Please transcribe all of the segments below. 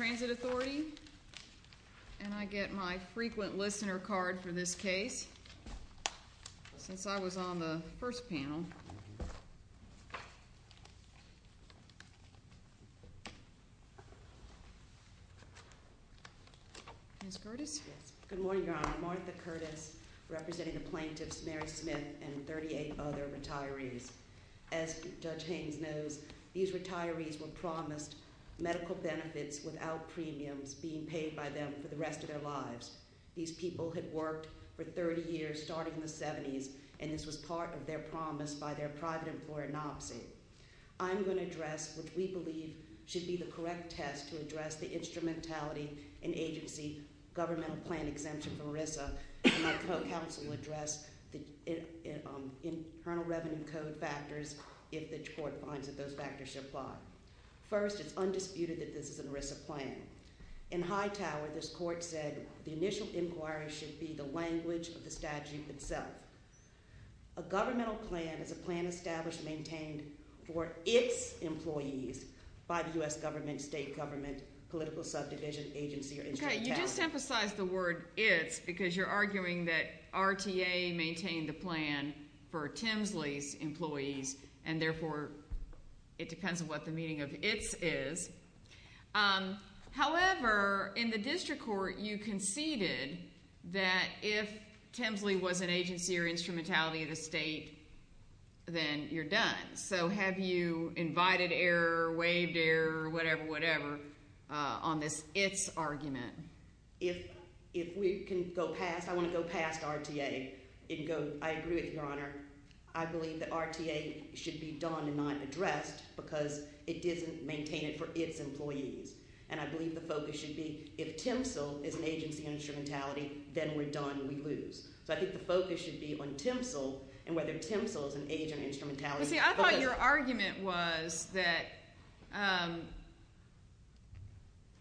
And I get my frequent listener card for this case, since I was on the first panel. Ms. Curtis? Good morning, Your Honor. I'm Martha Curtis, representing the plaintiffs Mary Smith and 38 other retirees. As Judge Haynes knows, these retirees were promised medical benefits without premiums being paid by them for the rest of their lives. These people had worked for 30 years, starting in the 70s, and this was part of their promise by their private employer, NOPSI. I'm going to address what we believe should be the correct test to address the instrumentality and agency governmental plan exemption from ERISA. My co-counsel addressed the Internal Revenue Code factors, if the court finds that those factors should apply. First, it's undisputed that this is an ERISA plan. In Hightower, this court said the initial inquiry should be the language of the statute itself. A governmental plan is a plan established and maintained for its employees by the U.S. government, state government, political subdivision, agency, or instrumentality. I just emphasized the word its because you're arguing that RTA maintained the plan for Temsley's employees, and therefore it depends on what the meaning of its is. However, in the district court, you conceded that if Temsley was an agency or instrumentality of the state, then you're done. So have you invited error, waived error, whatever, whatever on this its argument? If we can go past – I want to go past RTA and go – I agree with Your Honor. I believe that RTA should be done and not addressed because it doesn't maintain it for its employees, and I believe the focus should be if Temsley is an agency or instrumentality, then we're done, we lose. So I think the focus should be on Temsley and whether Temsley is an agency or instrumentality. But see, I thought your argument was that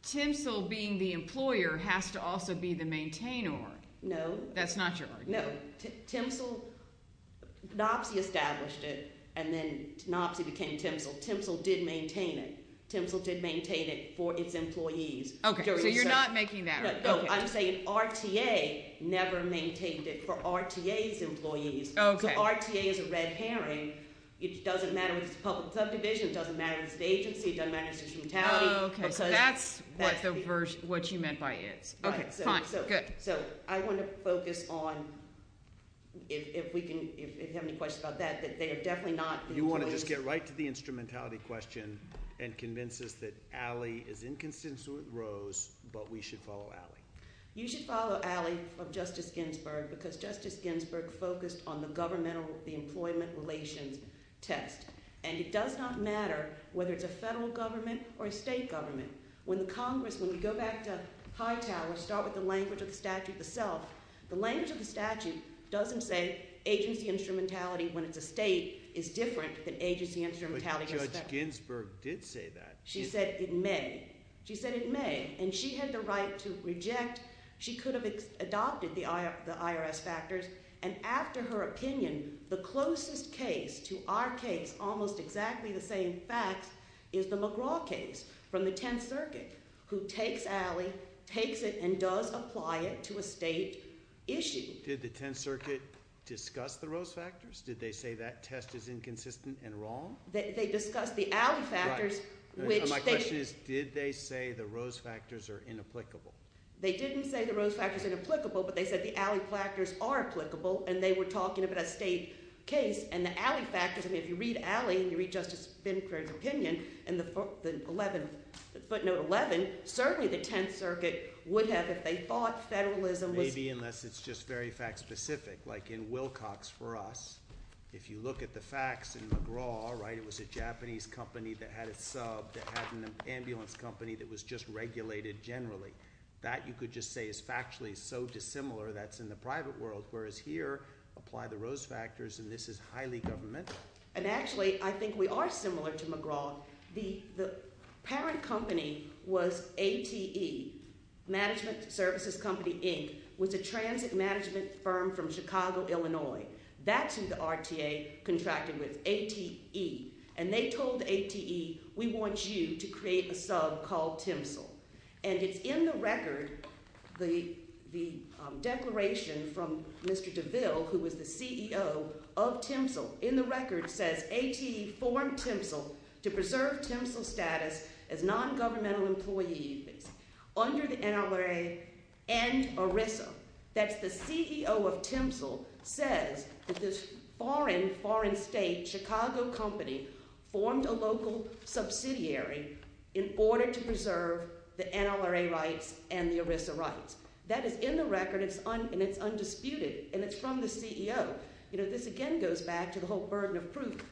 Temsley being the employer has to also be the maintainer. No. That's not your argument. No. Temsley – Knopsey established it, and then Knopsey became Temsley. Temsley did maintain it. Temsley did maintain it for its employees. Okay, so you're not making that argument. No, I'm saying RTA never maintained it for RTA's employees. Okay. So RTA is a red herring. It doesn't matter if it's a public subdivision. It doesn't matter if it's an agency. It doesn't matter if it's instrumentality. Okay, so that's what you meant by it. Okay, fine. Good. So I want to focus on, if we can – if you have any questions about that, that they are definitely not the employees. You should follow Ali of Justice Ginsburg because Justice Ginsburg focused on the governmental – the employment relations test. And it does not matter whether it's a federal government or a state government. When the Congress – when we go back to Hightower, start with the language of the statute itself, the language of the statute doesn't say agency instrumentality when it's a state is different than agency instrumentality. But Judge Ginsburg did say that. She said it may. She said it may. And she had the right to reject. She could have adopted the IRS factors. And after her opinion, the closest case to our case, almost exactly the same facts, is the McGraw case from the Tenth Circuit who takes Ali, takes it, and does apply it to a state issue. Did the Tenth Circuit discuss the Rose factors? Did they say that test is inconsistent and wrong? They discussed the Ali factors, which they – The question is, did they say the Rose factors are inapplicable? They didn't say the Rose factors are inapplicable, but they said the Ali factors are applicable, and they were talking about a state case. And the Ali factors – I mean, if you read Ali and you read Justice Binkler's opinion in the footnote 11, certainly the Tenth Circuit would have, if they thought federalism was – Maybe unless it's just very fact-specific, like in Wilcox for us. If you look at the facts in McGraw, right, it was a Japanese company that had a sub that had an ambulance company that was just regulated generally. That, you could just say, is factually so dissimilar that it's in the private world, whereas here, apply the Rose factors, and this is highly governmental. And actually, I think we are similar to McGraw. The parent company was ATE, Management Services Company, Inc. It was a transit management firm from Chicago, Illinois. That's who the RTA contracted with, ATE. And they told ATE, we want you to create a sub called TMSL. And it's in the record, the declaration from Mr. DeVille, who was the CEO of TMSL, in the record says, ATE formed TMSL to preserve TMSL status as non-governmental employees under the NRA and ERISA. That's the CEO of TMSL says that this foreign, foreign state, Chicago company formed a local subsidiary in order to preserve the NRA rights and the ERISA rights. That is in the record, and it's undisputed, and it's from the CEO. You know, this again goes back to the whole burden of proof.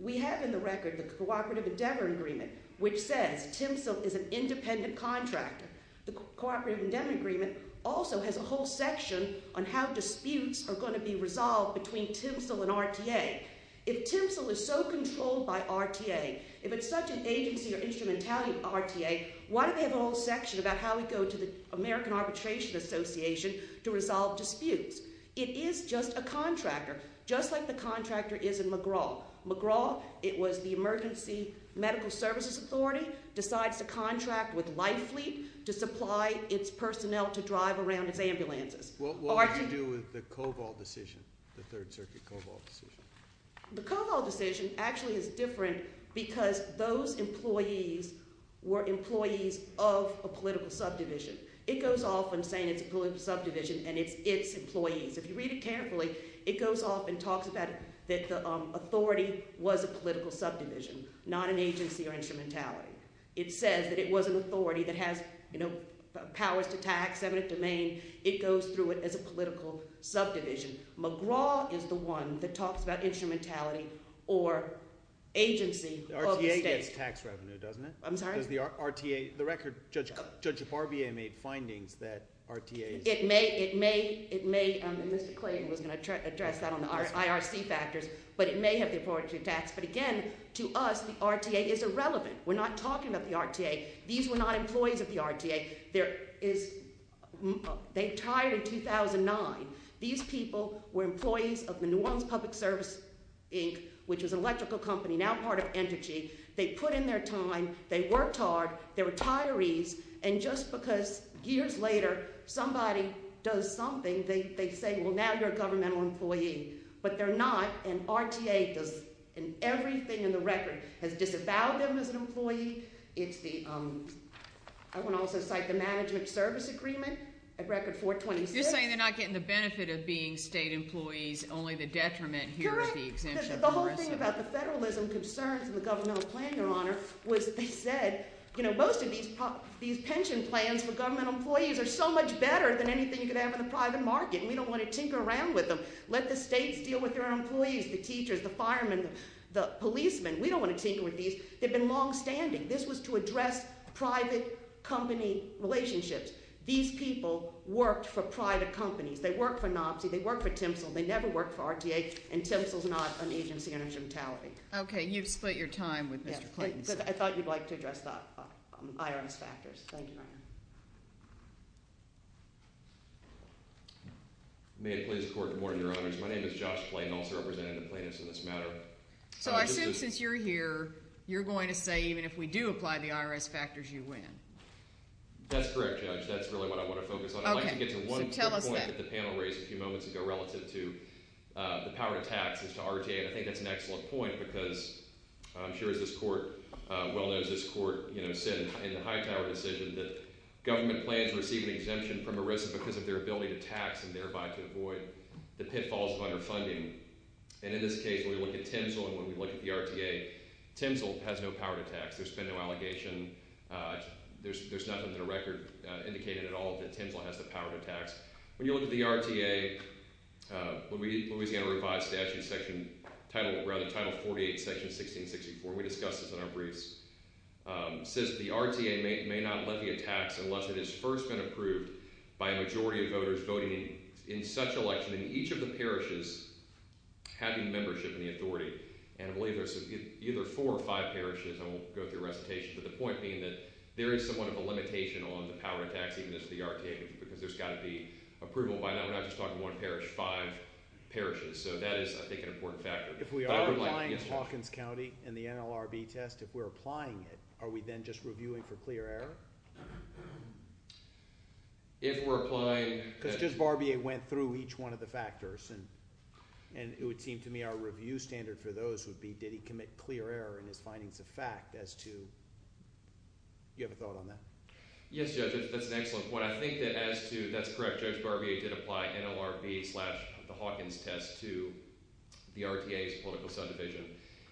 We have in the record the Cooperative Endeavor Agreement, which says TMSL is an independent contractor. The Cooperative Endeavor Agreement also has a whole section on how disputes are going to be resolved between TMSL and RTA. If TMSL is so controlled by RTA, if it's such an agency or instrumentality RTA, why do they have a whole section about how we go to the American Arbitration Association to resolve disputes? It is just a contractor, just like the contractor is in McGraw. McGraw, it was the Emergency Medical Services Authority, decides to contract with Life Fleet to supply its personnel to drive around its ambulances. What has to do with the Cobol decision, the Third Circuit Cobol decision? The Cobol decision actually is different because those employees were employees of a political subdivision. It goes off in saying it's a political subdivision and it's its employees. If you read it carefully, it goes off and talks about that the authority was a political subdivision, not an agency or instrumentality. It says that it was an authority that has powers to tax, eminent domain. It goes through it as a political subdivision. McGraw is the one that talks about instrumentality or agency of the state. RTA gets tax revenue, doesn't it? I'm sorry? Because the RTA, the record, Judge Barbier made findings that RTA- It may, it may, it may, and Mr. Clayton was going to address that on the IRC factors. But it may have the authority to tax. But again, to us, the RTA is irrelevant. We're not talking about the RTA. These were not employees of the RTA. There is, they retired in 2009. These people were employees of the New Orleans Public Service, Inc., which was an electrical company, now part of Energy. They put in their time. They worked hard. They're retirees. And just because years later somebody does something, they say, well, now you're a governmental employee. But they're not, and RTA does everything in the record. It has disavowed them as an employee. It's the, I want to also cite the Management Service Agreement at Record 426. You're saying they're not getting the benefit of being state employees, only the detriment here with the exemption. The whole thing about the federalism concerns in the governmental plan, Your Honor, was that they said, you know, most of these pension plans for governmental employees are so much better than anything you could have in the private market, and we don't want to tinker around with them. Let the states deal with their own employees, the teachers, the firemen, the policemen. We don't want to tinker with these. They've been longstanding. This was to address private company relationships. These people worked for private companies. They worked for Knopsy. They worked for Temsel. They never worked for RTA, and Temsel's not an agency under gentility. Okay, you've split your time with Mr. Clayton. I thought you'd like to address the IRS factors. Thank you, Your Honor. May it please the Court, good morning, Your Honors. My name is Josh Clayton, also representing the plaintiffs in this matter. So I assume since you're here, you're going to say even if we do apply the IRS factors, you win. That's correct, Judge. That's really what I want to focus on. I'd like to get to one point that the panel raised a few moments ago relative to the power to tax as to RTA, and I think that's an excellent point because I'm sure as this Court well knows, this Court said in the Hightower decision that government plans receive an exemption from a risk because of their ability to tax and thereby to avoid the pitfalls of underfunding. And in this case, when we look at Temsel and when we look at the RTA, Temsel has no power to tax. There's been no allegation. There's nothing in the record indicating at all that Temsel has the power to tax. When you look at the RTA, Louisiana Revised Statute, Title 48, Section 1664, we discussed this in our briefs, says the RTA may not levy a tax unless it has first been approved by a majority of voters voting in such election in each of the parishes having membership in the authority. And I believe there's either four or five parishes, and we'll go through recitation, but the point being that there is somewhat of a limitation on the power to tax even as the RTA, because there's got to be approval by not just one parish, five parishes. So that is, I think, an important factor. If we are applying Hawkins County in the NLRB test, if we're applying it, are we then just reviewing for clear error? If we're applying – Because just Barbier went through each one of the factors, and it would seem to me our review standard for those would be did he commit clear error in his findings of fact as to – you have a thought on that? Yes, Judge, that's an excellent point. I think that as to – that's correct. Judge Barbier did apply NLRB slash the Hawkins test to the RTA's political subdivision.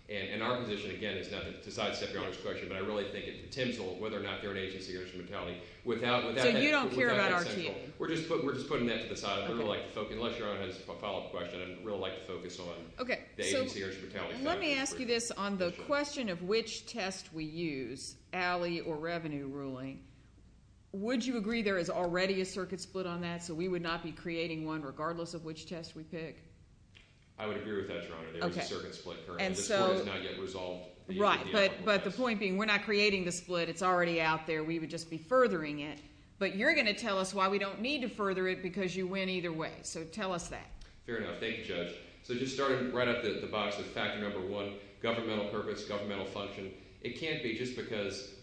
And our position, again, is not to sidestep Your Honor's question, but I really think it contends with whether or not they're an agency or a municipality without that central – So you don't care about RTA? We're just putting that to the side. Unless Your Honor has a follow-up question, I'd really like to focus on the agency or municipality factors. Let me ask you this. On the question of which test we use, alley or revenue ruling, would you agree there is already a circuit split on that, so we would not be creating one regardless of which test we pick? I would agree with that, Your Honor. There is a circuit split currently. The split is not yet resolved. Right, but the point being we're not creating the split. It's already out there. We would just be furthering it. But you're going to tell us why we don't need to further it because you win either way. So tell us that. Fair enough. Thank you, Judge. So just starting right off the box with factor number one, governmental purpose, governmental function, it can't be just because –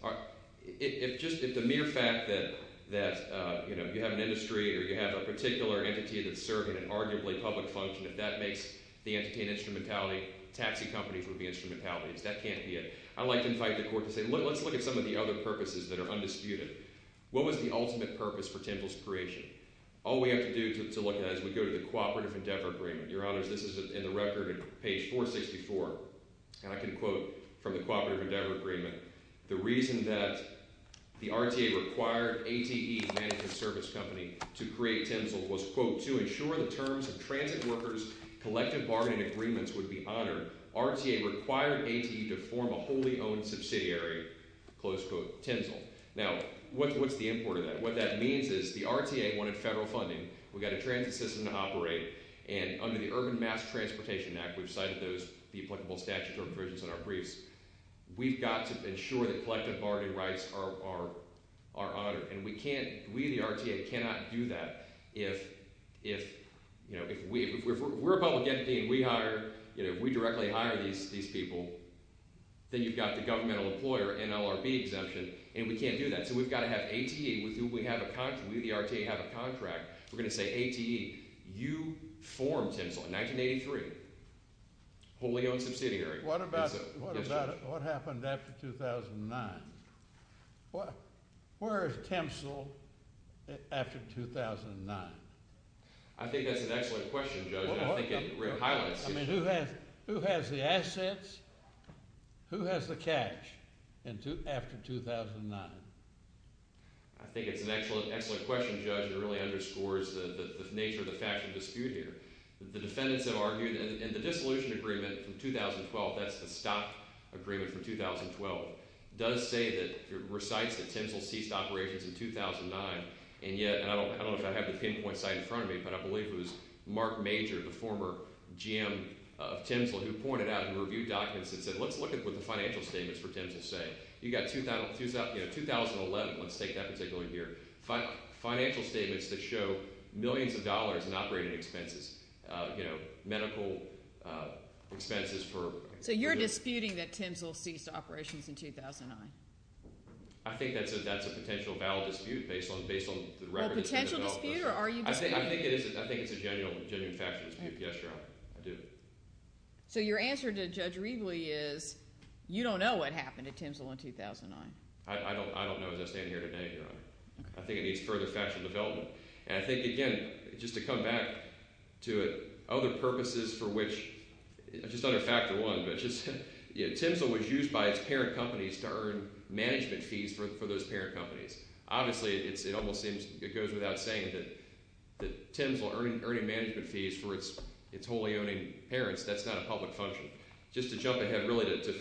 if just the mere fact that you have an industry or you have a particular entity that's serving an arguably public function, if that makes the entity an instrumentality, taxi companies would be instrumentalities. That can't be it. I'd like to invite the Court to say let's look at some of the other purposes that are undisputed. What was the ultimate purpose for TINZL's creation? All we have to do to look at it is we go to the Cooperative Endeavor Agreement. Your Honors, this is in the record at page 464, and I can quote from the Cooperative Endeavor Agreement, the reason that the RTA required ATE, Management Service Company, to create TINZL was, quote, to ensure the terms of transit workers' collective bargaining agreements would be honored. RTA required ATE to form a wholly owned subsidiary, close quote, TINZL. Now, what's the import of that? What that means is the RTA wanted federal funding. We've got a transit system to operate, and under the Urban Mass Transportation Act, we've cited those – the applicable statutes or provisions in our briefs. We've got to ensure that collective bargaining rights are honored, and we can't – we, the RTA, cannot do that. If we're a public entity and we hire – if we directly hire these people, then you've got the governmental employer NLRB exemption, and we can't do that. So we've got to have ATE with who we have a – we, the RTA, have a contract. We're going to say ATE, you form TINZL in 1983, wholly owned subsidiary. What about – what happened after 2009? Where is TINZL after 2009? I think that's an excellent question, Judge, and I think it highlights – I mean, who has the assets? Who has the cash after 2009? I think it's an excellent question, Judge. It really underscores the nature of the factual dispute here. The defendants have argued – and the dissolution agreement from 2012 – that's the stock agreement from 2012 – does say that – recites that TINZL ceased operations in 2009, and yet – and I don't know if I have the pinpoint site in front of me, but I believe it was Mark Major, the former GM of TINZL, who pointed out and reviewed documents and said, let's look at what the financial statements for TINZL say. You've got 2011 – let's take that particular year – financial statements that show millions of dollars in operating expenses, medical expenses for – So you're disputing that TINZL ceased operations in 2009? I think that's a potential valid dispute based on the record. Is that a potential dispute, or are you disputing – I think it is – I think it's a genuine factual dispute. Yes, Your Honor. I do. So your answer to Judge Riegle is you don't know what happened to TINZL in 2009. I don't know as I stand here today, Your Honor. I think it needs further factual development. And I think, again, just to come back to it, other purposes for which – just under Factor 1, but just – TINZL was used by its parent companies to earn management fees for those parent companies. Obviously, it almost seems – it goes without saying that TINZL earning management fees for its wholly owning parents, that's not a public function. Just to jump ahead really to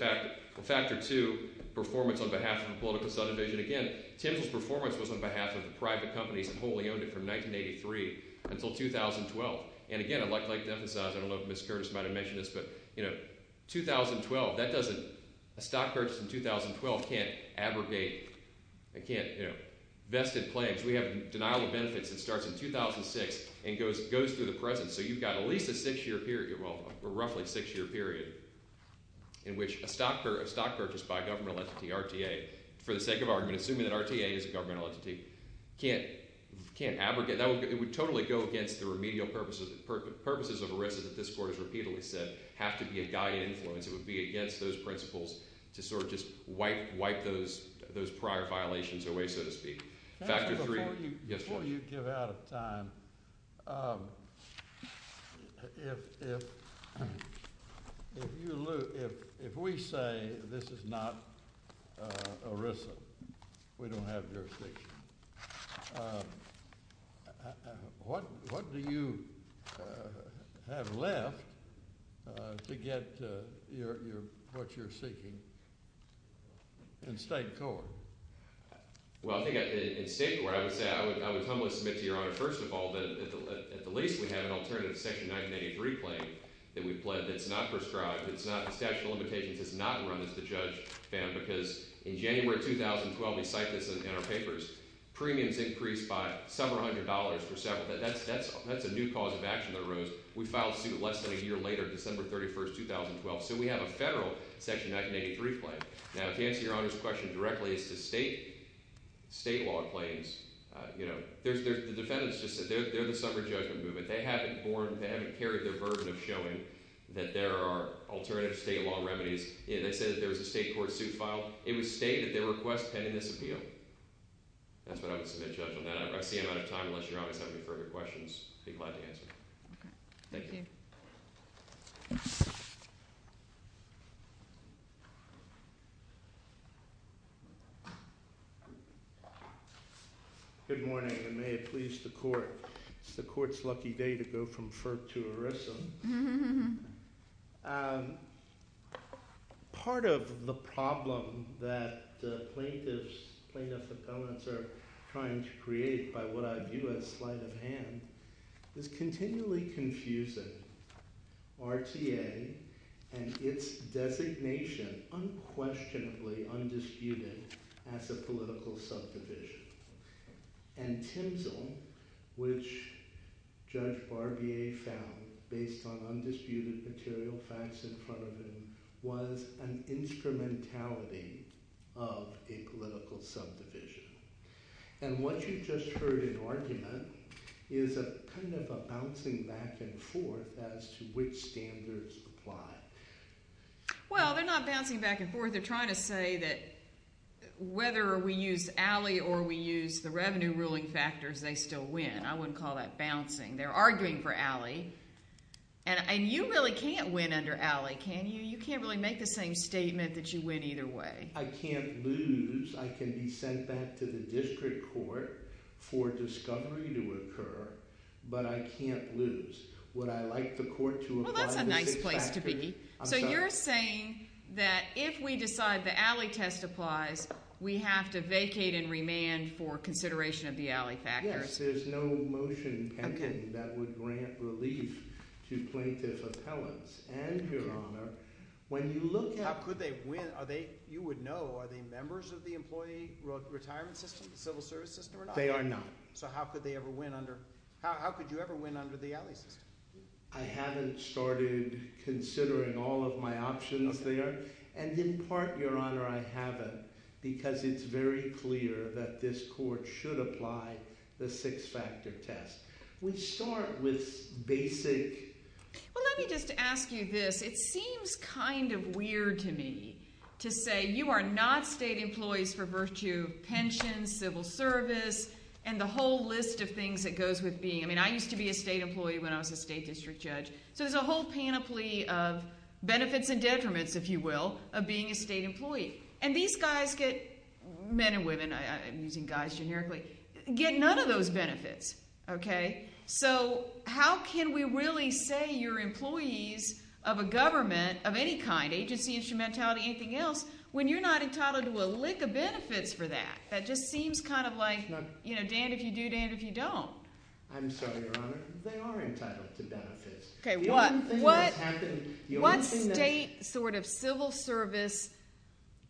Factor 2, performance on behalf of a political subdivision. Again, TINZL's performance was on behalf of the private companies that wholly owned it from 1983 until 2012. And again, I'd like to emphasize – I don't know if Ms. Curtis might have mentioned this, but – 2012, that doesn't – a stock purchase in 2012 can't abrogate – it can't – vested claims. We have denial of benefits that starts in 2006 and goes through the present. So you've got at least a six-year period – well, roughly a six-year period in which a stock purchase by a government entity, RTA, for the sake of argument, assuming that RTA is a government entity, can't abrogate. It would totally go against the remedial purposes of ERISA that this Court has repeatedly said have to be a guided influence. It would be against those principles to sort of just wipe those prior violations away, so to speak. Before you give out of time, if you – if we say this is not ERISA, we don't have jurisdiction, what do you have left to get your – what you're seeking in state court? Well, I think in state court, I would say – I would humbly submit to Your Honor, first of all, that at the least we have an alternative Section 1983 claim that we've pled that's not prescribed, that's not – the statute of limitations has not run as the judge found, because in January 2012 – we cite this in our papers – premiums increased by several hundred dollars for several – that's a new cause of action that arose. We filed suit less than a year later, December 31, 2012. So we have a federal Section 1983 claim. Now, to answer Your Honor's question directly, as to state law claims, you know, there's – the defendants just said they're the summer judgment movement. They haven't borne – they haven't carried their burden of showing that there are alternative state law remedies. They said that there was a state court suit filed. It was stated in their request pending this appeal. That's what I would submit, Judge, on that. I see I'm out of time unless Your Honor has any further questions. I'd be glad to answer. Okay. Thank you. Thank you. Good morning, and may it please the court. It's the court's lucky day to go from FERC to ERISA. Part of the problem that plaintiffs – plaintiff appellants are trying to create by what I view as sleight of hand is continually confusing RTA and its designation unquestionably undisputed as a political subdivision. And TIMSL, which Judge Barbier found based on undisputed material facts in front of him, was an instrumentality of a political subdivision. And what you just heard in argument is a kind of a bouncing back and forth as to which standards apply. Well, they're not bouncing back and forth. They're trying to say that whether we use ALLE or we use the revenue ruling factors, they still win. I wouldn't call that bouncing. They're arguing for ALLE. And you really can't win under ALLE, can you? You can't really make the same statement that you win either way. I can't lose. I can be sent back to the district court for discovery to occur, but I can't lose. Well, that's a nice place to be. So you're saying that if we decide the ALLE test applies, we have to vacate and remand for consideration of the ALLE factors. Yes, there's no motion pending that would grant relief to plaintiff appellants. And, Your Honor, when you look at – How could they win? You would know. Are they members of the employee retirement system, civil service system or not? They are not. So how could they ever win under – how could you ever win under the ALLE system? I haven't started considering all of my options there. And in part, Your Honor, I haven't because it's very clear that this court should apply the six-factor test. We start with basic – Well, let me just ask you this. It seems kind of weird to me to say you are not state employees for virtue of pension, civil service, and the whole list of things that goes with being. I mean I used to be a state employee when I was a state district judge. So there's a whole panoply of benefits and detriments, if you will, of being a state employee. And these guys get – men and women – I'm using guys generically – get none of those benefits. Okay? So how can we really say you're employees of a government of any kind – agency, instrumentality, anything else – when you're not entitled to a lick of benefits for that? That just seems kind of like, you know, Dan, if you do, Dan, if you don't. I'm sorry, Your Honor. They are entitled to benefits. Okay. What state sort of civil service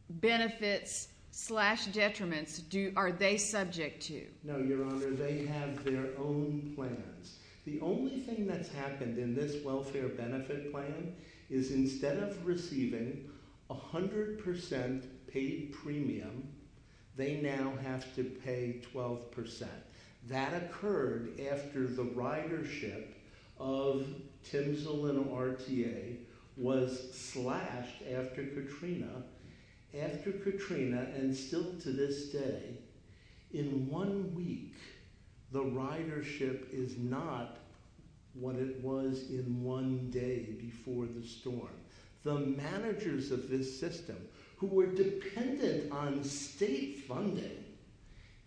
benefits slash detriments are they subject to? No, Your Honor. They have their own plans. The only thing that's happened in this welfare benefit plan is instead of receiving 100 percent paid premium, they now have to pay 12 percent. That occurred after the ridership of Timsel and RTA was slashed after Katrina. After Katrina and still to this day, in one week, the ridership is not what it was in one day before the storm. The managers of this system who were dependent on state funding –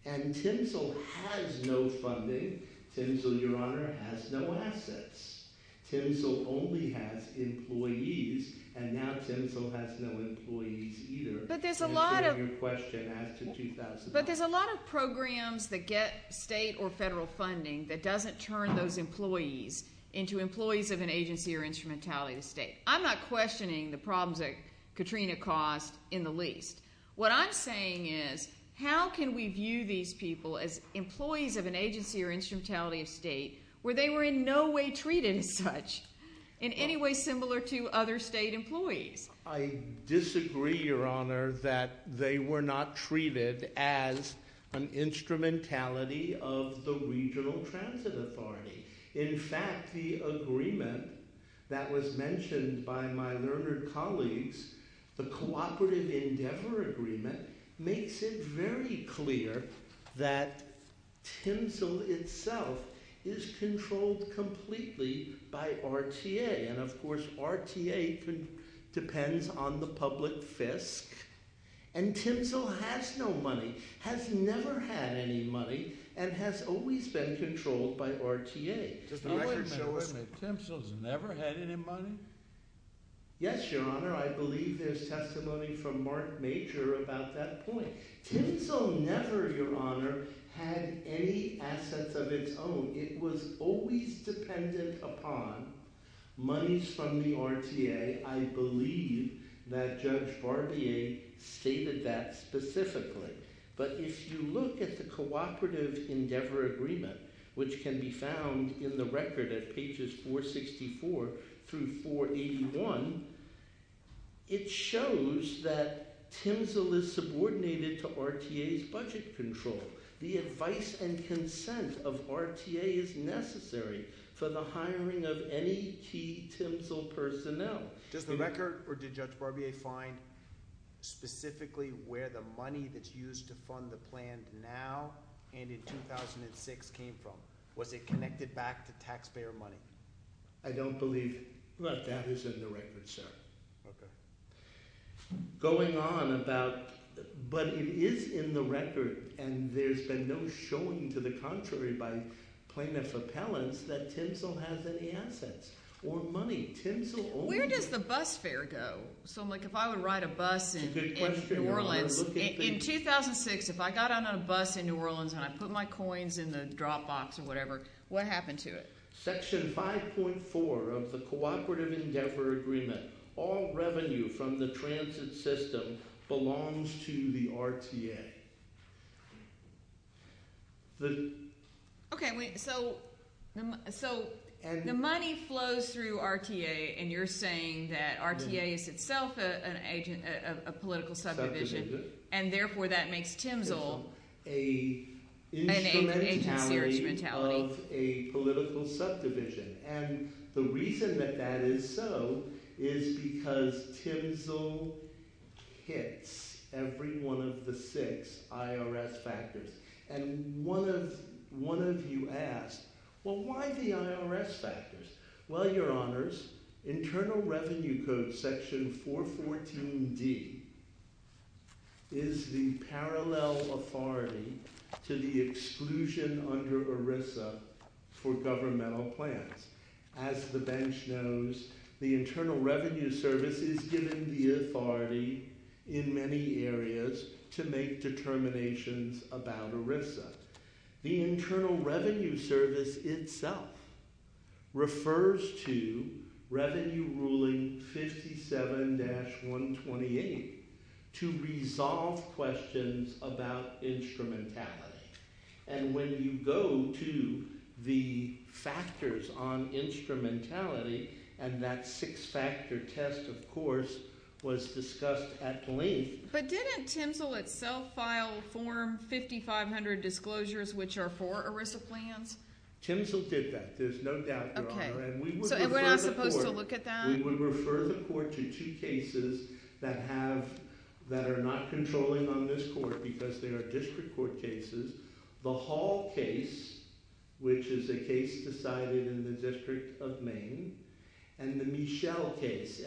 and Timsel has no funding. Timsel, Your Honor, has no assets. Timsel only has employees, and now Timsel has no employees either. But there's a lot of – And so your question adds to $2,000. But there's a lot of programs that get state or federal funding that doesn't turn those employees into employees of an agency or instrumentality to state. I'm not questioning the problems that Katrina caused in the least. What I'm saying is how can we view these people as employees of an agency or instrumentality of state where they were in no way treated as such in any way similar to other state employees? I disagree, Your Honor, that they were not treated as an instrumentality of the Regional Transit Authority. In fact, the agreement that was mentioned by my learned colleagues, the Cooperative Endeavor Agreement, makes it very clear that Timsel itself is controlled completely by RTA. And, of course, RTA depends on the public fisc. And Timsel has no money, has never had any money, and has always been controlled by RTA. Does the record show that Timsel's never had any money? Yes, Your Honor. I believe there's testimony from Mark Major about that point. Timsel never, Your Honor, had any assets of its own. It was always dependent upon monies from the RTA. I believe that Judge Barbier stated that specifically. But if you look at the Cooperative Endeavor Agreement, which can be found in the record at pages 464 through 481, it shows that Timsel is subordinated to RTA's budget control. The advice and consent of RTA is necessary for the hiring of any key Timsel personnel. Does the record or did Judge Barbier find specifically where the money that's used to fund the plan now and in 2006 came from? Was it connected back to taxpayer money? I don't believe that that is in the record, sir. Okay. Going on about – but it is in the record, and there's been no showing to the contrary by plaintiff appellants that Timsel has any assets or money. Where does the bus fare go? So, like, if I would ride a bus in New Orleans in 2006, if I got on a bus in New Orleans and I put my coins in the drop box or whatever, what happened to it? Section 5.4 of the Cooperative Endeavor Agreement, all revenue from the transit system belongs to the RTA. Okay. So, the money flows through RTA, and you're saying that RTA is itself a political subdivision, and therefore that makes Timsel an agency or instrumentality. And the reason that that is so is because Timsel hits every one of the six IRS factors. And one of you asked, well, why the IRS factors? Well, Your Honors, Internal Revenue Code section 414D is the parallel authority to the exclusion under ERISA for governmental plans. As the bench knows, the Internal Revenue Service is given the authority in many areas to make determinations about ERISA. The Internal Revenue Service itself refers to Revenue Ruling 57-128 to resolve questions about instrumentality. And when you go to the factors on instrumentality, and that six-factor test, of course, was discussed at length. But didn't Timsel itself file Form 5500 Disclosures, which are for ERISA plans? Timsel did that. There's no doubt, Your Honor. Okay. So we're not supposed to look at that? We would refer the court to two cases that are not controlling on this court because they are district court cases. The Hall case, which is a case decided in the District of Maine, and the Michel case, M-I-C-H-E-L,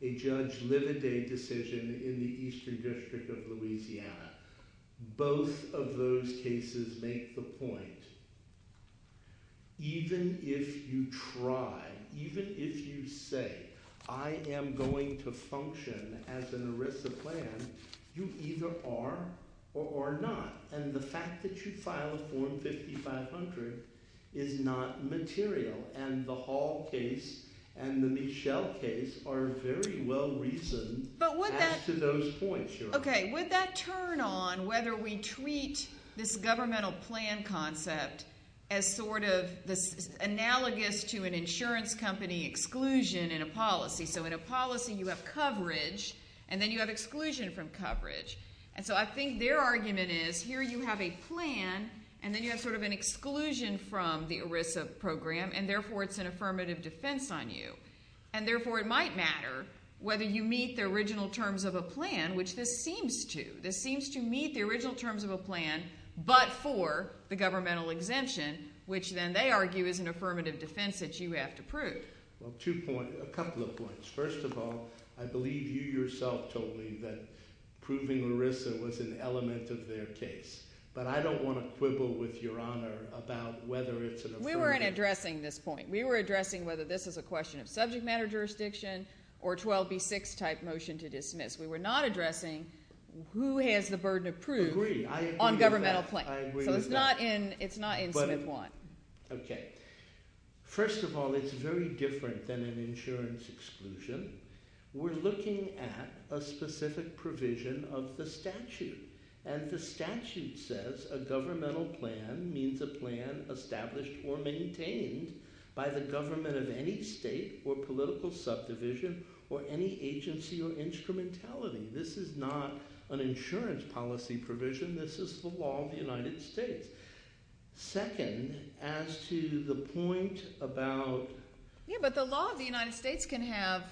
a Judge Livaday decision in the Eastern District of Louisiana. Both of those cases make the point. Even if you try, even if you say, I am going to function as an ERISA plan, you either are or are not. And the fact that you file a Form 5500 is not material. And the Hall case and the Michel case are very well reasoned as to those points, Your Honor. Okay. Would that turn on whether we treat this governmental plan concept as sort of analogous to an insurance company exclusion in a policy? So in a policy, you have coverage, and then you have exclusion from coverage. And so I think their argument is here you have a plan, and then you have sort of an exclusion from the ERISA program, and therefore it's an affirmative defense on you. And therefore it might matter whether you meet the original terms of a plan, which this seems to. This seems to meet the original terms of a plan but for the governmental exemption, which then they argue is an affirmative defense that you have to prove. Well, two points – a couple of points. First of all, I believe you yourself told me that proving ERISA was an element of their case. But I don't want to quibble with Your Honor about whether it's an affirmative. We weren't addressing this point. We were addressing whether this is a question of subject matter jurisdiction or 12B6 type motion to dismiss. We were not addressing who has the burden of proof on governmental plan. I agree with that. I agree with that. So it's not in – it's not in Smith-Watt. Okay. First of all, it's very different than an insurance exclusion. We're looking at a specific provision of the statute. And the statute says a governmental plan means a plan established or maintained by the government of any state or political subdivision or any agency or instrumentality. This is not an insurance policy provision. This is the law of the United States. Second, as to the point about – Yeah, but the law of the United States can have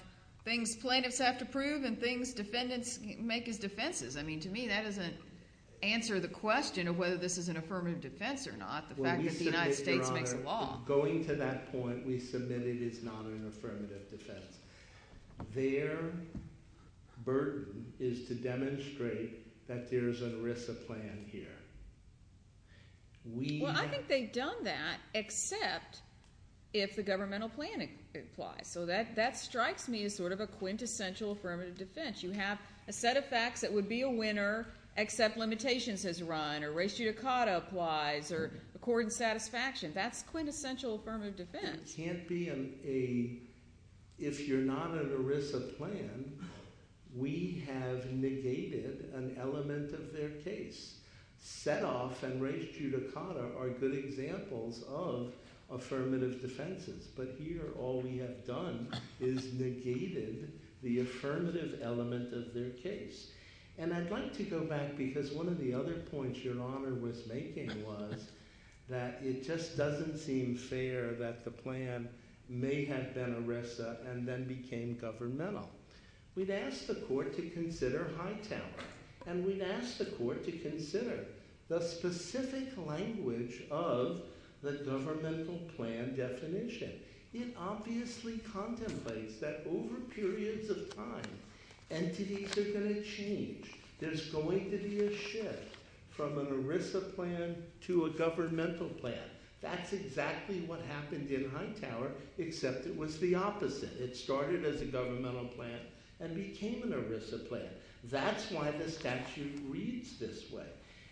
things plaintiffs have to prove and things defendants make as defenses. I mean to me that doesn't answer the question of whether this is an affirmative defense or not. The fact that the United States makes a law. Going to that point, we submitted it's not an affirmative defense. Their burden is to demonstrate that there's an ERISA plan here. Well, I think they've done that except if the governmental plan applies. So that strikes me as sort of a quintessential affirmative defense. You have a set of facts that would be a winner except limitations has run or res judicata applies or accord and satisfaction. That's quintessential affirmative defense. It can't be a – if you're not an ERISA plan, we have negated an element of their case. Setoff and res judicata are good examples of affirmative defenses. But here all we have done is negated the affirmative element of their case. And I'd like to go back because one of the other points Your Honor was making was that it just doesn't seem fair that the plan may have been ERISA and then became governmental. We'd ask the court to consider Hightower and we'd ask the court to consider the specific language of the governmental plan definition. It obviously contemplates that over periods of time entities are going to change. There's going to be a shift from an ERISA plan to a governmental plan. That's exactly what happened in Hightower except it was the opposite. It started as a governmental plan and became an ERISA plan. That's why the statute reads this way.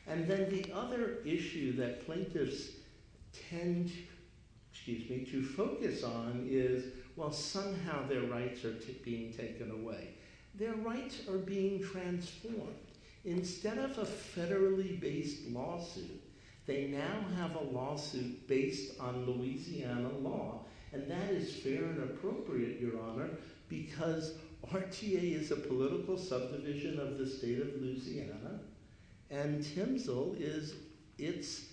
And then the other issue that plaintiffs tend to focus on is, well, somehow their rights are being taken away. Their rights are being transformed. Instead of a federally based lawsuit, they now have a lawsuit based on Louisiana law. And that is fair and appropriate, Your Honor, because RTA is a political subdivision of the state of Louisiana and TMSL is its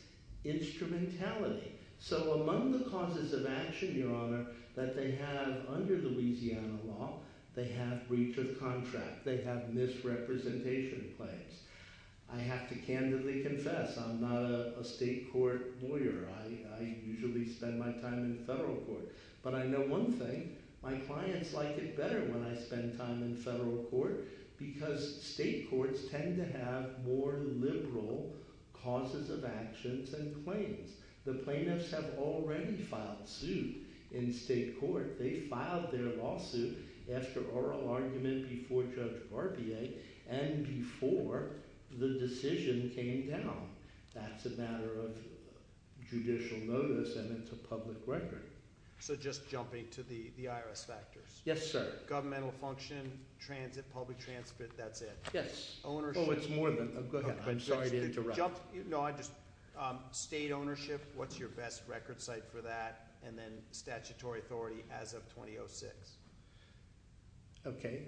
instrumentality. So among the causes of action, Your Honor, that they have under the Louisiana law, they have breach of contract. They have misrepresentation claims. I have to candidly confess I'm not a state court lawyer. I usually spend my time in federal court. But I know one thing. My clients like it better when I spend time in federal court because state courts tend to have more liberal causes of actions and claims. The plaintiffs have already filed suit in state court. They filed their lawsuit after oral argument before Judge Barbier and before the decision came down. That's a matter of judicial notice and it's a public record. So just jumping to the IRS factors. Yes, sir. Governmental function, transit, public transit, that's it. Yes. Ownership. Oh, it's more than that. Go ahead. I'm sorry to interrupt. State ownership. What's your best record site for that? And then statutory authority as of 2006. Okay.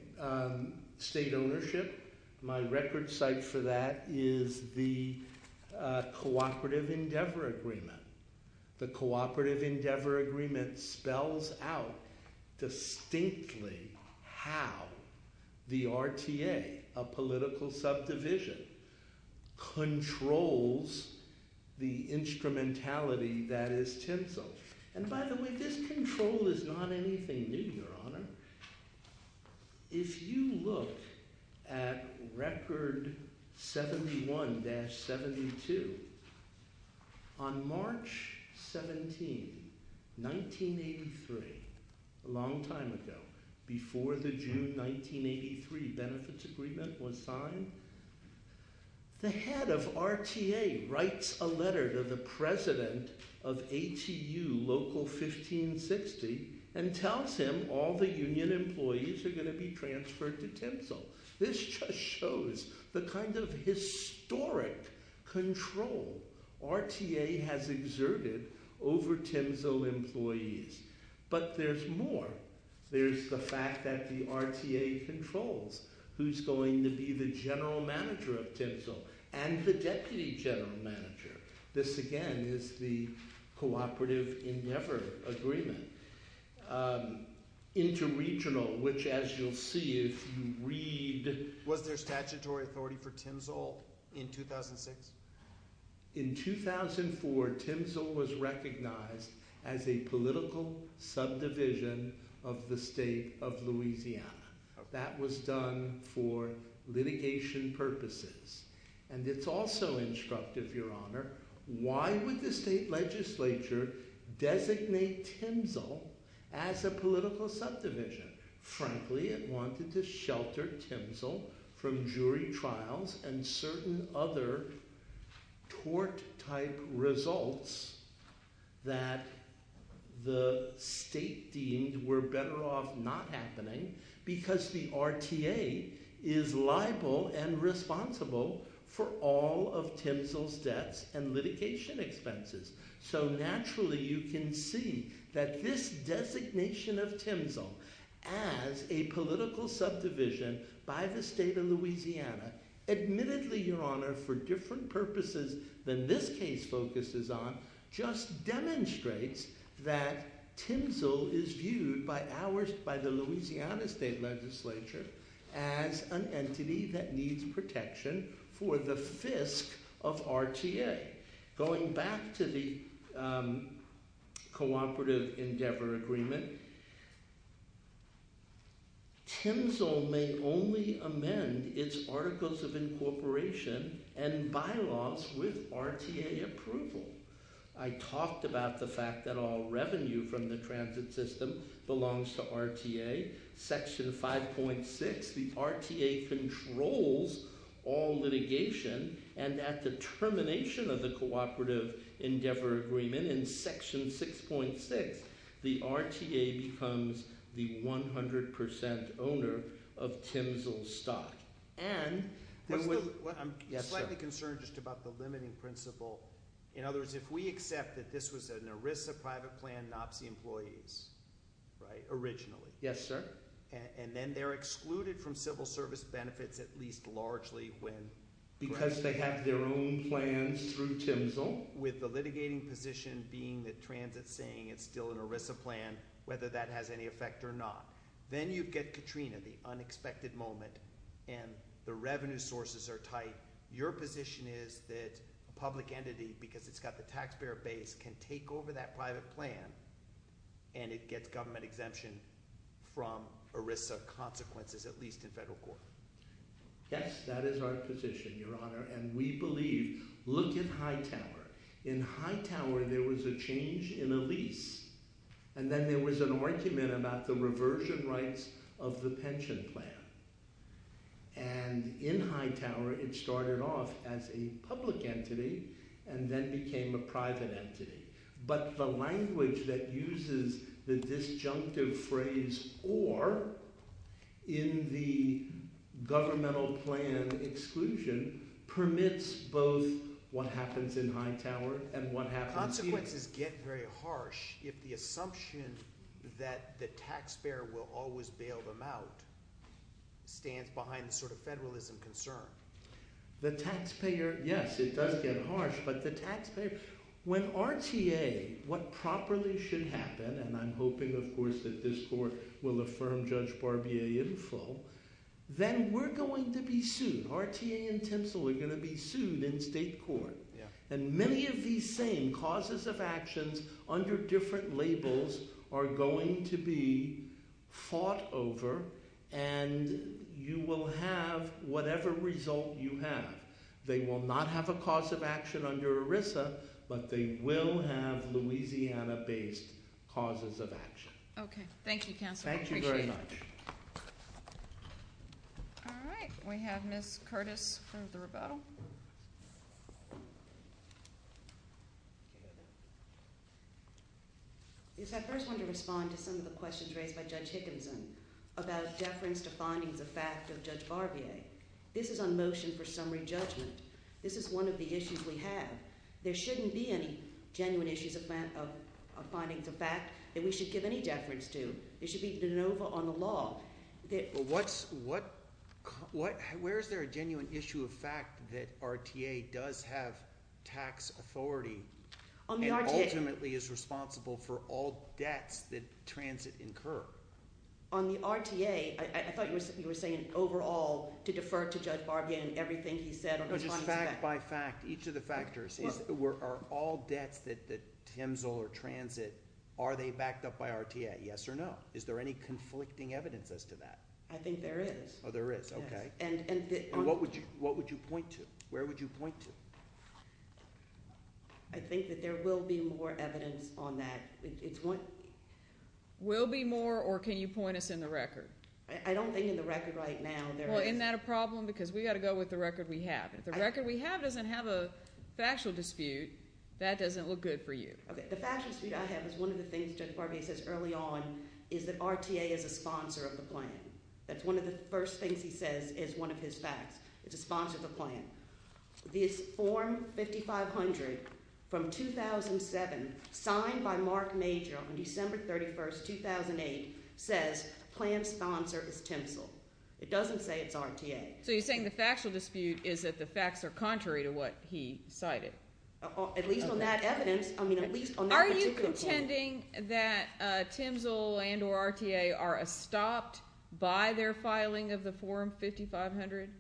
State ownership. My record site for that is the Cooperative Endeavor Agreement. The Cooperative Endeavor Agreement spells out distinctly how the RTA, a political subdivision, controls the instrumentality that is TINSA. And by the way, this control is not anything new, Your Honor. If you look at Record 71-72, on March 17, 1983, a long time ago, before the June 1983 benefits agreement was signed, the head of RTA writes a letter to the president of ATU Local 1560 and tells him all the union employees are going to be transferred to TIMSO. This just shows the kind of historic control RTA has exerted over TIMSO employees. But there's more. There's the fact that the RTA controls who's going to be the general manager of TIMSO and the deputy general manager. This, again, is the Cooperative Endeavor Agreement. Interregional, which, as you'll see if you read… Was there statutory authority for TIMSO in 2006? In 2004, TIMSO was recognized as a political subdivision of the state of Louisiana. That was done for litigation purposes. And it's also instructive, Your Honor, why would the state legislature designate TIMSO as a political subdivision? Frankly, it wanted to shelter TIMSO from jury trials and certain other tort-type results that the state deemed were better off not happening because the RTA is liable and responsible for all of TIMSO's debts and litigation expenses. So, naturally, you can see that this designation of TIMSO as a political subdivision by the state of Louisiana, admittedly, Your Honor, for different purposes than this case focuses on, just demonstrates that TIMSO is viewed by the Louisiana state legislature as an entity that needs protection for the fisc of RTA. Going back to the Cooperative Endeavor Agreement, TIMSO may only amend its Articles of Incorporation and bylaws with RTA approval. I talked about the fact that all revenue from the transit system belongs to RTA. Section 5.6, the RTA controls all litigation. And at the termination of the Cooperative Endeavor Agreement in Section 6.6, the RTA becomes the 100% owner of TIMSO's stock. And- I'm slightly concerned just about the limiting principle. In other words, if we accept that this was an ERISA private plan, NOPSI employees, right, originally. Yes, sir. And then they're excluded from civil service benefits at least largely when- Because they have their own plans through TIMSO. With the litigating position being that transit's saying it's still an ERISA plan, whether that has any effect or not. Then you get Katrina, the unexpected moment, and the revenue sources are tight. Your position is that a public entity, because it's got the taxpayer base, can take over that private plan and it gets government exemption from ERISA consequences, at least in federal court. Yes, that is our position, Your Honor, and we believe- Look at Hightower. In Hightower, there was a change in a lease. And then there was an argument about the reversion rights of the pension plan. And in Hightower, it started off as a public entity and then became a private entity. But the language that uses the disjunctive phrase or in the governmental plan exclusion permits both what happens in Hightower and what happens here. The consequences get very harsh if the assumption that the taxpayer will always bail them out stands behind the sort of federalism concern. The taxpayer, yes, it does get harsh, but the taxpayer- When RTA, what properly should happen, and I'm hoping, of course, that this court will affirm Judge Barbier in full, then we're going to be sued. RTA and TIMSO are going to be sued in state court. And many of these same causes of actions under different labels are going to be fought over, and you will have whatever result you have. They will not have a cause of action under ERISA, but they will have Louisiana-based causes of action. Okay, thank you, Counselor. Thank you very much. Yes, I first wanted to respond to some of the questions raised by Judge Hickinson about deference to findings of fact of Judge Barbier. This is on motion for summary judgment. This is one of the issues we have. There shouldn't be any genuine issues of findings of fact that we should give any deference to. It should be de novo on the law. Where is there a genuine issue of fact that RTA does have tax authority and ultimately is responsible for all debts that transit incurred? On the RTA, I thought you were saying overall to defer to Judge Barbier and everything he said- Just fact by fact, each of the factors. Are all debts that TIMSO or transit, are they backed up by RTA? Yes or no? Is there any conflicting evidence as to that? I think there is. Oh, there is. Okay. What would you point to? Where would you point to? I think that there will be more evidence on that. Will be more or can you point us in the record? I don't think in the record right now there is- Well, isn't that a problem because we've got to go with the record we have. If the record we have doesn't have a factual dispute, that doesn't look good for you. Okay, the factual dispute I have is one of the things Judge Barbier says early on is that RTA is a sponsor of the plan. That's one of the first things he says is one of his facts. It's a sponsor of the plan. This form 5500 from 2007 signed by Mark Major on December 31st, 2008 says plan sponsor is TIMSO. It doesn't say it's RTA. So you're saying the factual dispute is that the facts are contrary to what he cited? At least on that evidence. I mean at least on that particular point. Are you contending that TIMSO and or RTA are stopped by their filing of the form 5500?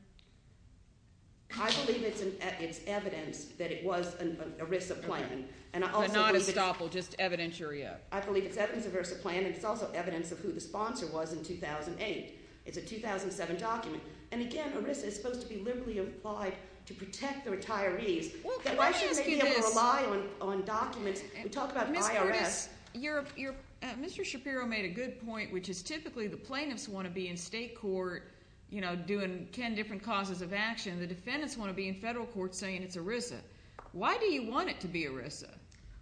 I believe it's evidence that it was an ERISA plan. But not a stopple, just evidentiary of. I believe it's evidence of ERISA plan and it's also evidence of who the sponsor was in 2008. It's a 2007 document. And again, ERISA is supposed to be liberally applied to protect the retirees. Why should they be able to rely on documents? We talk about IRS. Mr. Shapiro made a good point, which is typically the plaintiffs want to be in state court doing ten different causes of action. The defendants want to be in federal court saying it's ERISA. Why do you want it to be ERISA?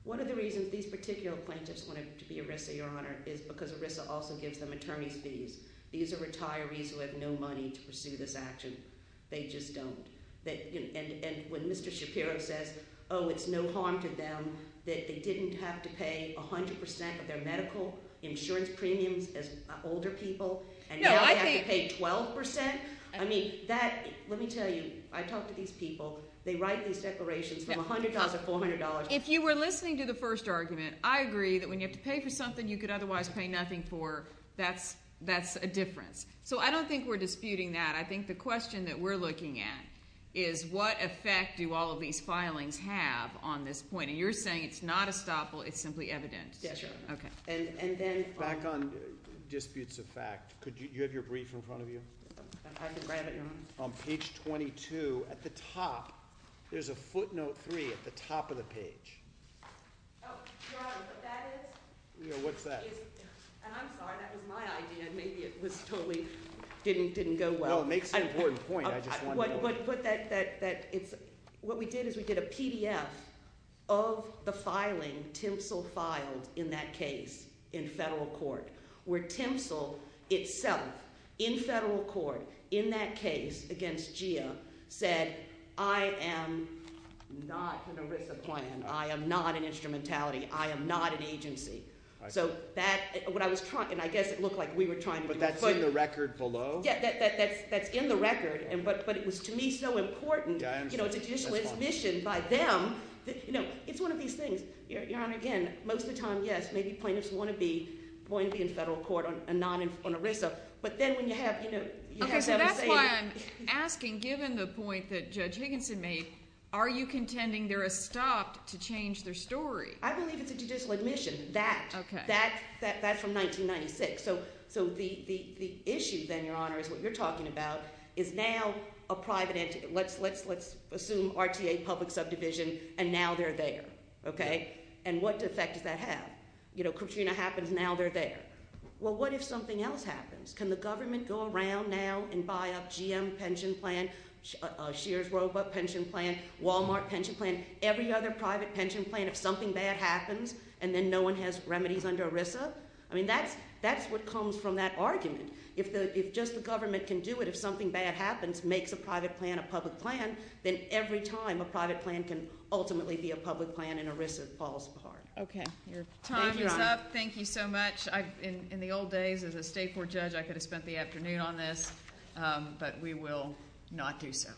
One of the reasons these particular plaintiffs want it to be ERISA, Your Honor, is because ERISA also gives them attorney's fees. These are retirees who have no money to pursue this action. They just don't. And when Mr. Shapiro says, oh, it's no harm to them that they didn't have to pay 100 percent of their medical insurance premiums as older people. And now they have to pay 12 percent? I mean, that – let me tell you, I talk to these people. They write these declarations from $100 to $400. If you were listening to the first argument, I agree that when you have to pay for something you could otherwise pay nothing for, that's a difference. So I don't think we're disputing that. I think the question that we're looking at is what effect do all of these filings have on this point? And you're saying it's not estoppel, it's simply evidence. Yes, Your Honor. Okay. And then – Back on disputes of fact, could you have your brief in front of you? I can grab it, Your Honor. On page 22, at the top, there's a footnote 3 at the top of the page. Oh, Your Honor, what that is – What's that? And I'm sorry, that was my idea. Maybe it was totally – didn't go well. No, it makes an important point. I just wanted to know. What we did is we did a PDF of the filing Timsel filed in that case in federal court where Timsel itself, in federal court, in that case against GIA, said, I am not going to risk a plan. I am not an instrumentality. I am not an agency. So that – what I was trying – and I guess it looked like we were trying to do a footnote. But that's in the record below? Yeah, that's in the record. But it was, to me, so important. It's a judicial admission by them. It's one of these things, Your Honor, again, most of the time, yes, maybe plaintiffs want to be in federal court on ERISA. But then when you have – Okay, so that's why I'm asking, given the point that Judge Higginson made, are you contending there is a stop to change their story? I believe it's a judicial admission, that. That's from 1996. So the issue then, Your Honor, is what you're talking about is now a private entity. Let's assume RTA, public subdivision, and now they're there. Okay? And what effect does that have? Katrina happens. Now they're there. Well, what if something else happens? Can the government go around now and buy up GM pension plan, Shearer's Roebuck pension plan, Walmart pension plan, every other private pension plan if something bad happens and then no one has remedies under ERISA? I mean that's what comes from that argument. If just the government can do it, if something bad happens, makes a private plan a public plan, then every time a private plan can ultimately be a public plan and ERISA falls apart. Okay. Your time is up. Thank you so much. In the old days, as a state court judge, I could have spent the afternoon on this, but we will not do so.